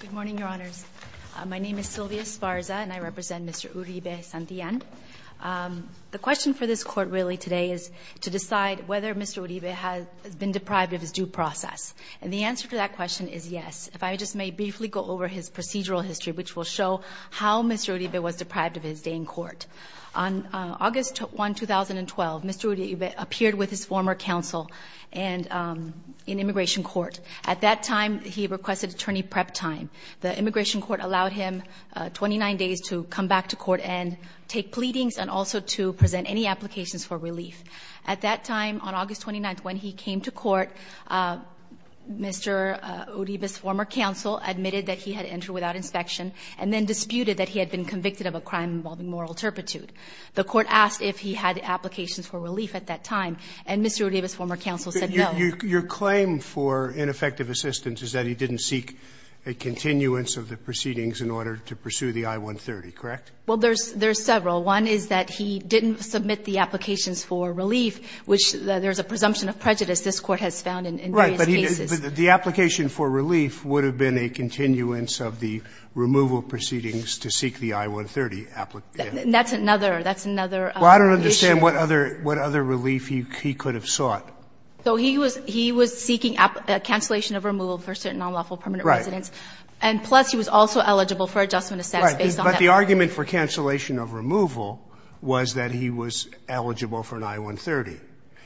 Good morning, Your Honors. My name is Sylvia Esparza, and I represent Mr. Uribe-Santillan. The question for this court really today is to decide whether Mr. Uribe has been deprived of his due process. And the answer to that question is yes. If I just may briefly go over his procedural history, which will show how Mr. Uribe was deprived of his day in court. On August 1, 2012, Mr. Uribe appeared with his former counsel in immigration court. At that time, he requested attorney prep time. The immigration court allowed him 29 days to come back to court and take pleadings and also to present any applications for relief. At that time, on August 29, when he came to court, Mr. Uribe's former counsel admitted that he had entered without inspection and then disputed that he had been convicted of a crime involving moral turpitude. The court asked if he had applications for relief at that time, and Mr. Uribe's former counsel said no. Sotomayor, your claim for ineffective assistance is that he didn't seek a continuance of the proceedings in order to pursue the I-130, correct? Well, there's several. One is that he didn't submit the applications for relief, which there's a presumption of prejudice this Court has found in various cases. But the application for relief would have been a continuance of the removal proceedings to seek the I-130. That's another issue. Well, I don't understand what other relief he could have sought. So he was seeking cancellation of removal for certain nonlawful permanent residents. Right. And plus, he was also eligible for adjustment of status based on that. Right. But the argument for cancellation of removal was that he was eligible for an I-130.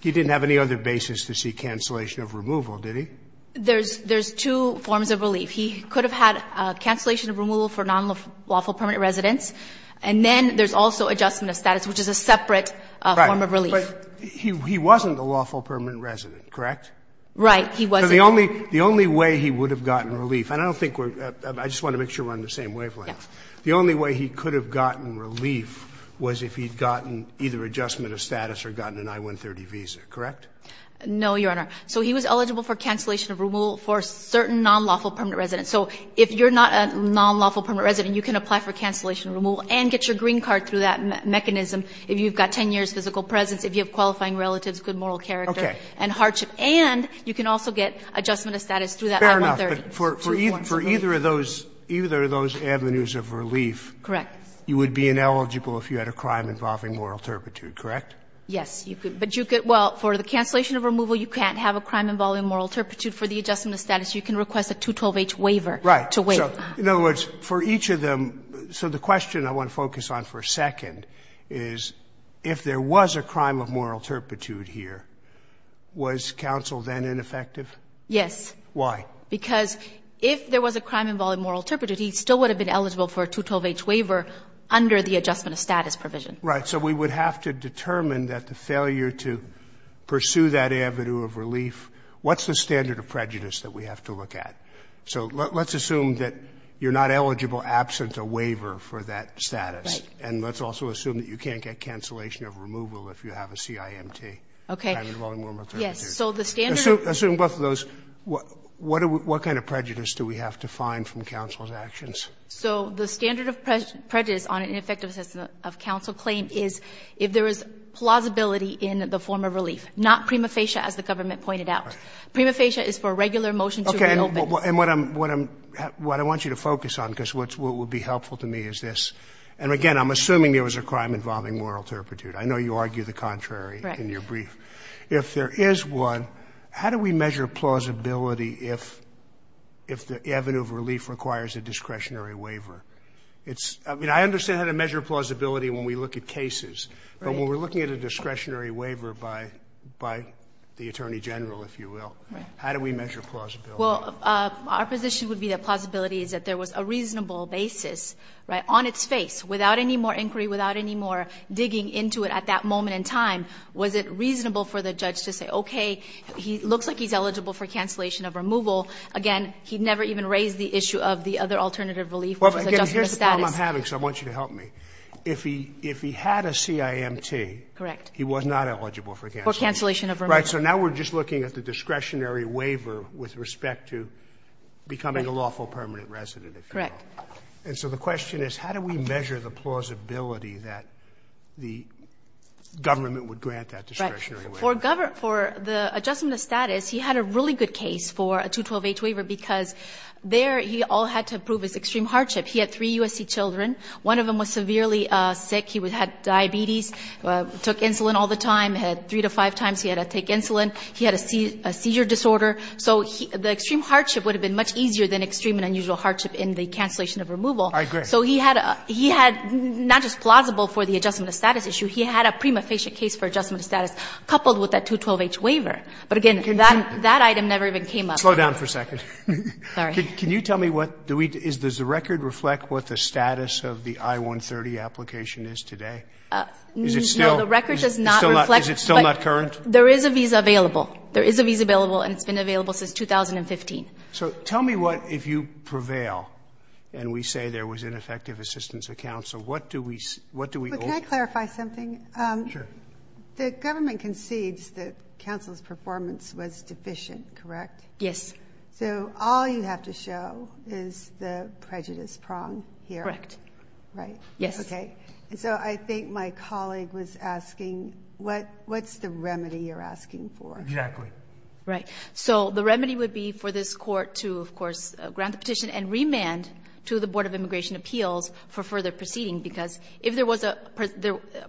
He didn't have any other basis to seek cancellation of removal, did he? There's two forms of relief. He could have had cancellation of removal for nonlawful permanent residents, Right. But he wasn't a lawful permanent resident, correct? Right. He wasn't. The only way he would have gotten relief, and I don't think we're going to make sure we're on the same wavelength. Yes. The only way he could have gotten relief was if he had gotten either adjustment of status or gotten an I-130 visa, correct? No, Your Honor. So he was eligible for cancellation of removal for certain nonlawful permanent residents. So if you're not a nonlawful permanent resident, you can apply for cancellation of removal and get your green card through that mechanism. If you've got 10 years physical presence, if you have qualifying relatives, good moral character and hardship. Okay. And you can also get adjustment of status through that I-130. Fair enough. But for either of those, either of those avenues of relief. Correct. You would be ineligible if you had a crime involving moral turpitude, correct? Yes. But you could, well, for the cancellation of removal, you can't have a crime involving moral turpitude. For the adjustment of status, you can request a 212-H waiver to wait. Right. So in other words, for each of them, so the question I want to focus on for a second is if there was a crime of moral turpitude here, was counsel then ineffective? Yes. Why? Because if there was a crime involving moral turpitude, he still would have been eligible for a 212-H waiver under the adjustment of status provision. Right. So we would have to determine that the failure to pursue that avenue of relief, what's the standard of prejudice that we have to look at? So let's assume that you're not eligible absent a waiver for that status. Right. And let's also assume that you can't get cancellation of removal if you have a CIMT. Okay. Assume both of those. What kind of prejudice do we have to find from counsel's actions? So the standard of prejudice on an ineffective assessment of counsel claim is if there is plausibility in the form of relief, not prima facie as the government pointed out. Prima facie is for a regular motion to reopen. Okay. And what I want you to focus on, because what would be helpful to me is this. And, again, I'm assuming there was a crime involving moral turpitude. I know you argue the contrary in your brief. Right. If there is one, how do we measure plausibility if the avenue of relief requires a discretionary waiver? I mean, I understand how to measure plausibility when we look at cases. Right. But when we're looking at a discretionary waiver by the Attorney General, if you will, how do we measure plausibility? Well, our position would be that plausibility is that there was a reasonable basis, right, on its face, without any more inquiry, without any more digging into it at that moment in time, was it reasonable for the judge to say, okay, he looks like he's eligible for cancellation of removal. Again, he never even raised the issue of the other alternative relief. Well, again, here's the problem I'm having, so I want you to help me. If he had a CIMT. Correct. He was not eligible for cancellation. For cancellation of removal. Right. So now we're just looking at the discretionary waiver with respect to becoming a lawful permanent resident, if you will. Correct. And so the question is, how do we measure the plausibility that the government would grant that discretionary waiver? For the adjustment of status, he had a really good case for a 212-H waiver because there he all had to prove his extreme hardship. He had three USC children. One of them was severely sick. He had diabetes, took insulin all the time, had three to five times he had to take insulin. He had a seizure disorder. So the extreme hardship would have been much easier than extreme and unusual hardship in the cancellation of removal. I agree. So he had not just plausible for the adjustment of status issue. He had a prima facie case for adjustment of status coupled with that 212-H waiver. But, again, that item never even came up. Slow down for a second. Sorry. Can you tell me what do we do? Does the record reflect what the status of the I-130 application is today? Is it still? No, the record does not reflect. Is it still not current? There is a visa available. There is a visa available and it's been available since 2015. So tell me what if you prevail and we say there was ineffective assistance of counsel, what do we do? Can I clarify something? Sure. The government concedes that counsel's performance was deficient, correct? Yes. So all you have to show is the prejudice prong here. Correct. Right? Yes. Okay. So I think my colleague was asking what's the remedy you're asking for? Exactly. Right. So the remedy would be for this Court to, of course, grant the petition and remand to the Board of Immigration Appeals for further proceeding, because if there was a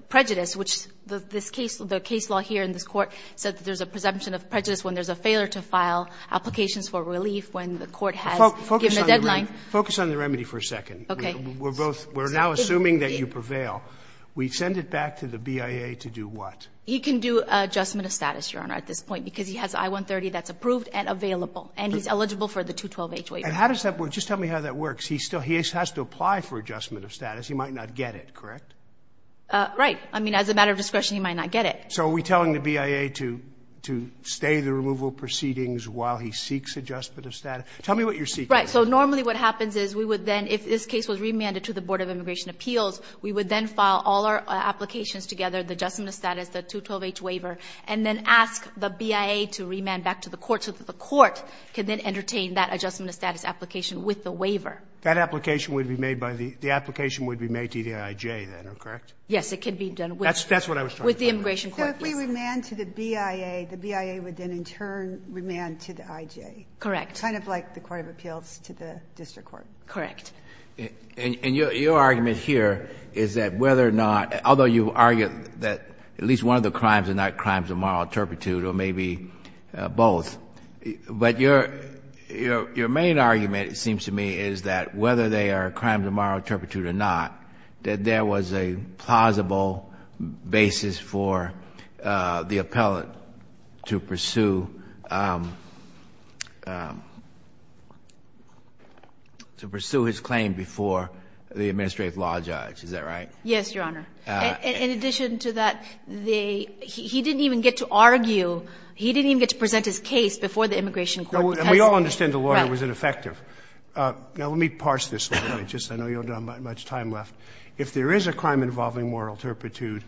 prejudice, which this case, the case law here in this Court said that there's a presumption of prejudice when there's a failure to file applications for relief when the Court has given a deadline. Focus on the remedy for a second. Okay. We're both, we're now assuming that you prevail. We send it back to the BIA to do what? He can do adjustment of status, Your Honor, at this point, because he has I-130 that's approved and available. And he's eligible for the 212-H waiver. And how does that work? Just tell me how that works. He has to apply for adjustment of status. He might not get it, correct? Right. I mean, as a matter of discretion, he might not get it. So are we telling the BIA to stay the removal proceedings while he seeks adjustment of status? Tell me what you're seeking. Right. So normally what happens is we would then, if this case was remanded to the Board of Immigration Appeals, we would then file all our applications together, the adjustment of status, the 212-H waiver, and then ask the BIA to remand back to the court so that the court can then entertain that adjustment of status application with the waiver. That application would be made by the, the application would be made to the IJ, then, correct? Yes. It can be done with. That's what I was talking about. With the immigration court, yes. So if we remand to the BIA, the BIA would then in turn remand to the IJ. Correct. Kind of like the court of appeals to the district court. Correct. And your argument here is that whether or not, although you argue that at least one of the crimes are not crimes of moral turpitude or maybe both, but your, your main argument, it seems to me, is that whether they are crimes of moral turpitude or not, that there was a plausible basis for the appellate to pursue, to pursue his claim before the administrative law judge, is that right? Yes, Your Honor. In addition to that, the, he didn't even get to argue, he didn't even get to present his case before the immigration court. And we all understand the lawyer was ineffective. Now, let me parse this. I know you don't have much time left. If there is a crime involving moral turpitude,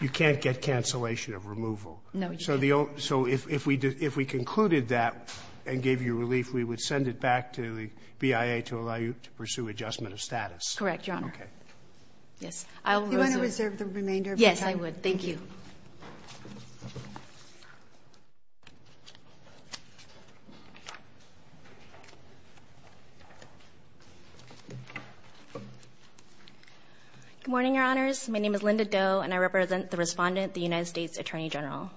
you can't get cancellation of removal. No, you can't. So if we concluded that and gave you relief, we would send it back to the BIA to allow you to pursue adjustment of status. Correct, Your Honor. Okay. Yes. Do you want to reserve the remainder of your time? Yes, I would. Thank you. Good morning, Your Honors. My name is Linda Doe, and I represent the Respondent, the United States Attorney General.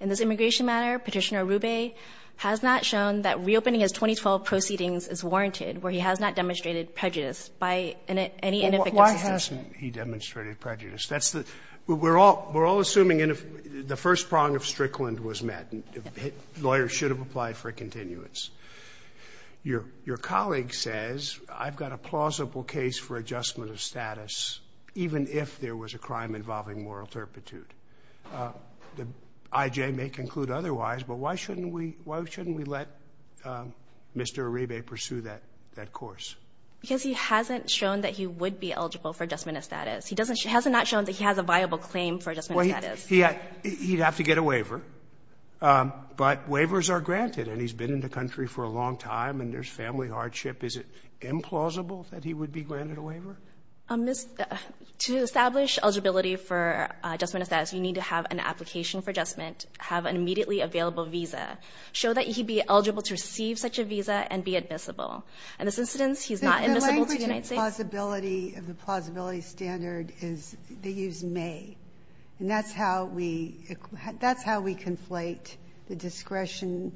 In this immigration matter, Petitioner Arrube has not shown that reopening his 2012 proceedings is warranted, where he has not demonstrated prejudice by any inefficacies. Why hasn't he demonstrated prejudice? That's the we're all we're all assuming the first prong of Strickland was met. Lawyers should have applied for a continuance. Your colleague says, I've got a plausible case for adjustment of status, even if there was a crime involving moral turpitude. The IJ may conclude otherwise, but why shouldn't we let Mr. Arrube pursue that course? Because he hasn't shown that he would be eligible for adjustment of status. He hasn't not shown that he has a viable claim for adjustment of status. He'd have to get a waiver, but waivers are granted, and he's been in the country for a long time, and there's family hardship. Is it implausible that he would be granted a waiver? To establish eligibility for adjustment of status, you need to have an application for adjustment, have an immediately available visa, show that he'd be eligible to receive such a visa, and be admissible. In this instance, he's not admissible to the United States. The language of the plausibility standard is they use may, and that's how we conflate the discretion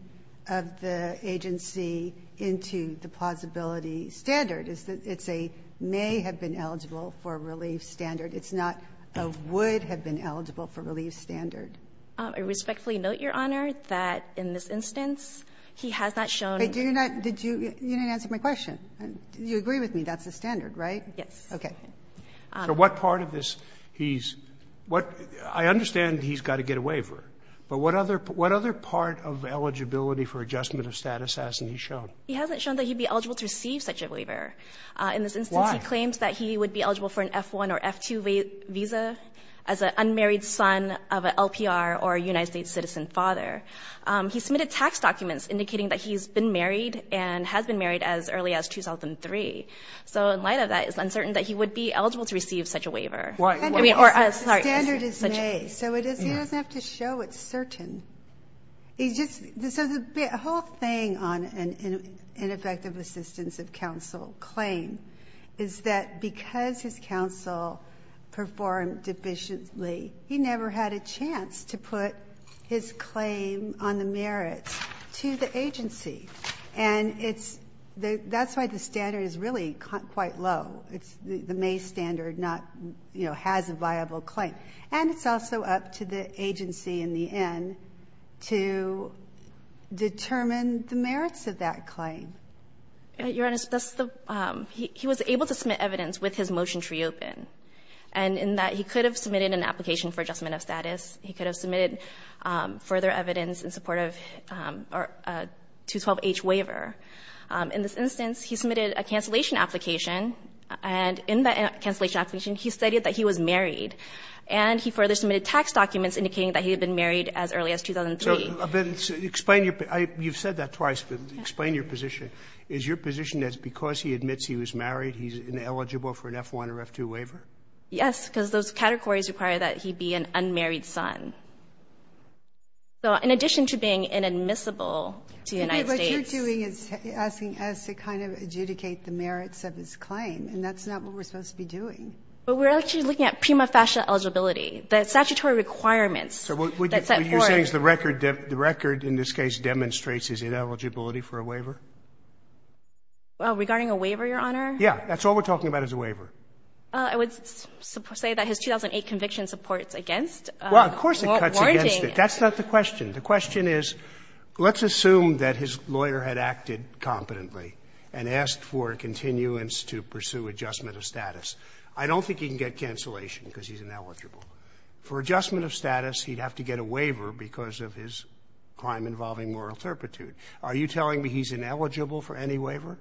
of the agency into the plausibility standard. It's a may have been eligible for relief standard. It's not a would have been eligible for relief standard. I respectfully note, Your Honor, that in this instance, he has not shown. You didn't answer my question. You agree with me. That's the standard, right? Yes. Okay. So what part of this he's – I understand he's got to get a waiver, but what other part of eligibility for adjustment of status hasn't he shown? He hasn't shown that he'd be eligible to receive such a waiver. Why? In this instance, he claims that he would be eligible for an F-1 or F-2 visa as an unmarried son of an LPR or a United States citizen father. He submitted tax documents indicating that he's been married and has been married as early as 2003. So in light of that, it's uncertain that he would be eligible to receive such a waiver. Why? The standard is may, so he doesn't have to show it's certain. He just – so the whole thing on an ineffective assistance of counsel claim is that because his counsel performed deficiently, he never had a chance to put his claim on the merits to the agency. And it's – that's why the standard is really quite low. The may standard not, you know, has a viable claim. And it's also up to the agency in the end to determine the merits of that claim. Your Honor, that's the – he was able to submit evidence with his motion tree open, and in that he could have submitted an application for adjustment of status. He could have submitted further evidence in support of a 212-H waiver. In this instance, he submitted a cancellation application, and in that cancellation application, he stated that he was married. And he further submitted tax documents indicating that he had been married as early as 2003. So then explain your – you've said that twice, but explain your position. Is your position that because he admits he was married, he's ineligible for an F-1 or F-2 waiver? Yes, because those categories require that he be an unmarried son. So in addition to being inadmissible to the United States – What you're doing is asking us to kind of adjudicate the merits of his claim, and that's not what we're supposed to be doing. Well, we're actually looking at prima facie eligibility. The statutory requirements that set forth – So what you're saying is the record – the record in this case demonstrates his ineligibility for a waiver? Regarding a waiver, Your Honor? Yeah. That's all we're talking about is a waiver. I would say that his 2008 conviction supports against warranting – Well, of course it cuts against it. That's not the question. The question is, let's assume that his lawyer had acted competently and asked for continuance to pursue adjustment of status. I don't think he can get cancellation because he's ineligible. For adjustment of status, he'd have to get a waiver because of his crime involving moral turpitude. Are you telling me he's ineligible for any waiver?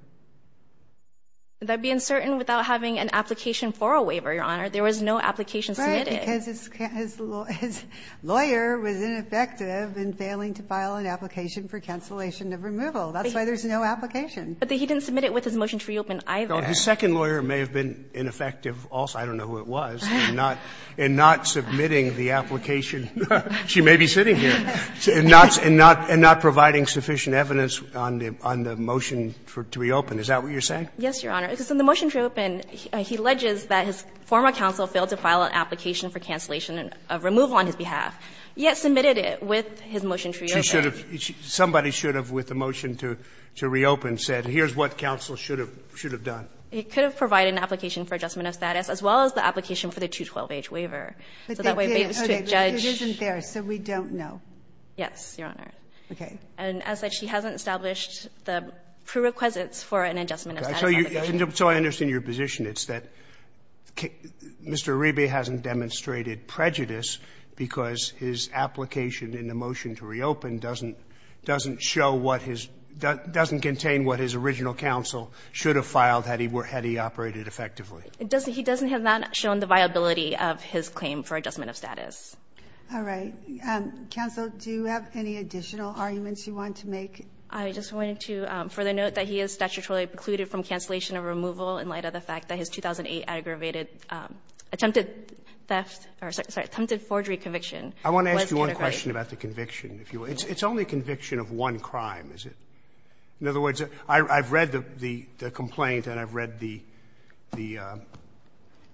That would be uncertain without having an application for a waiver, Your Honor. There was no application submitted. Right, because his lawyer was ineffective in failing to file an application for cancellation of removal. That's why there's no application. But he didn't submit it with his motion to reopen, either. His second lawyer may have been ineffective also. I don't know who it was, in not submitting the application. She may be sitting here. In not providing sufficient evidence on the motion to reopen. Is that what you're saying? Yes, Your Honor. Because in the motion to reopen, he alleges that his former counsel failed to file an application for cancellation of removal on his behalf, yet submitted it with his motion to reopen. Somebody should have, with the motion to reopen, said here's what counsel should have done. It could have provided an application for adjustment of status, as well as the application for the 212-H waiver. But that didn't. It isn't there, so we don't know. Yes, Your Honor. Okay. And as such, he hasn't established the prerequisites for an adjustment of status application. So I understand your position. It's that Mr. Arebe hasn't demonstrated prejudice because his application in the motion to reopen doesn't show what his doesn't contain what his original counsel should have filed had he operated effectively. He doesn't have not shown the viability of his claim for adjustment of status. All right. Counsel, do you have any additional arguments you want to make? I just wanted to further note that he is statutorily precluded from cancellation of removal in light of the fact that his 2008 aggravated attempted theft or attempted forgery conviction. I want to ask you one question about the conviction, if you will. It's only a conviction of one crime, is it? In other words, I've read the complaint and I've read the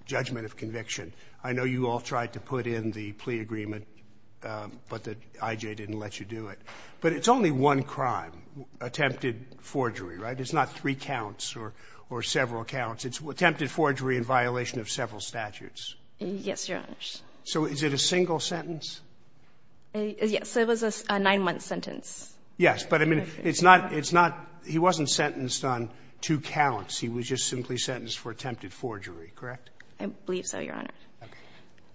judgment of conviction. I know you all tried to put in the plea agreement, but the I.J. didn't let you do it. But it's only one crime, attempted forgery, right? It's not three counts or several counts. It's attempted forgery in violation of several statutes. Yes, Your Honor. So is it a single sentence? Yes. It was a nine-month sentence. Yes. But, I mean, it's not he wasn't sentenced on two counts. He was just simply sentenced for attempted forgery, correct? I believe so, Your Honor.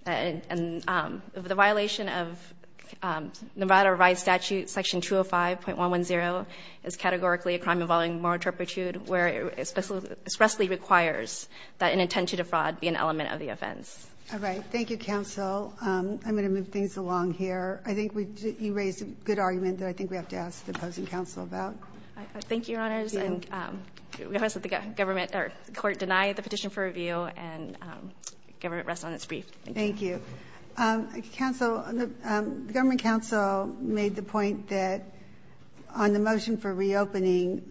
Okay. And the violation of Nevada Rights Statute Section 205.110 is categorically a crime involving moral turpitude, where it expressly requires that an intention to fraud be an element of the offense. All right. Thank you, counsel. I'm going to move things along here. I think you raised a good argument that I think we have to ask the opposing counsel about. Thank you, Your Honors. And we request that the government or court deny the petition for review and government rest on its brief. Thank you. Thank you. Counsel, the government counsel made the point that on the motion for reopening,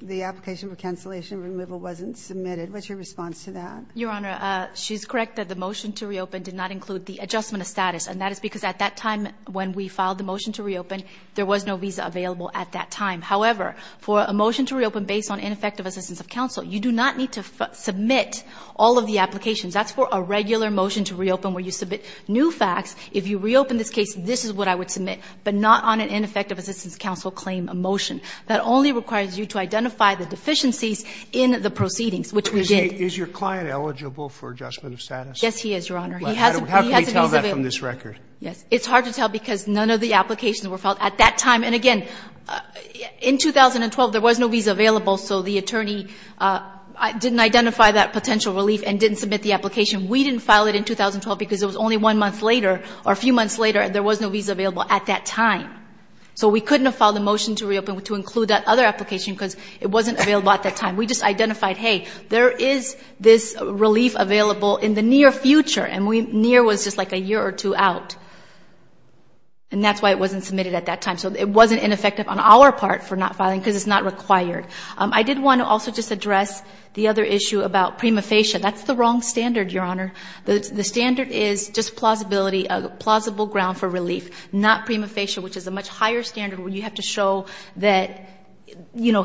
the application for cancellation removal wasn't submitted. What's your response to that? Your Honor, she's correct that the motion to reopen did not include the adjustment of status. And that is because at that time when we filed the motion to reopen, there was no visa available at that time. However, for a motion to reopen based on ineffective assistance of counsel, you do not need to submit all of the applications. That's for a regular motion to reopen where you submit new facts. If you reopen this case, this is what I would submit, but not on an ineffective assistance counsel claim motion. That only requires you to identify the deficiencies in the proceedings, which we did. Is your client eligible for adjustment of status? Yes, he is, Your Honor. He has a visa available. How can we tell that from this record? Yes. It's hard to tell because none of the applications were filed at that time. And again, in 2012, there was no visa available, so the attorney didn't identify that potential relief and didn't submit the application. We didn't file it in 2012 because it was only one month later or a few months later and there was no visa available at that time. So we couldn't have filed a motion to reopen to include that other application because it wasn't available at that time. We just identified, hey, there is this relief available in the near future, and near was just like a year or two out. And that's why it wasn't submitted at that time. So it wasn't ineffective on our part for not filing because it's not required. I did want to also just address the other issue about prima facie. That's the wrong standard, Your Honor. The standard is just plausibility, a plausible ground for relief, not prima facie, where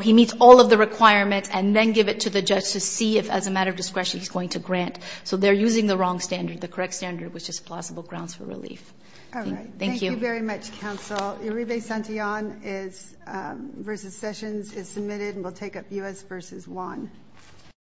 he meets all of the requirements and then give it to the judge to see if as a matter of discretion he's going to grant. So they're using the wrong standard, the correct standard, which is plausible grounds for relief. All right. Thank you. Thank you very much, counsel. Uribe-Santillan v. Sessions is submitted and will take up U.S. v. Juan.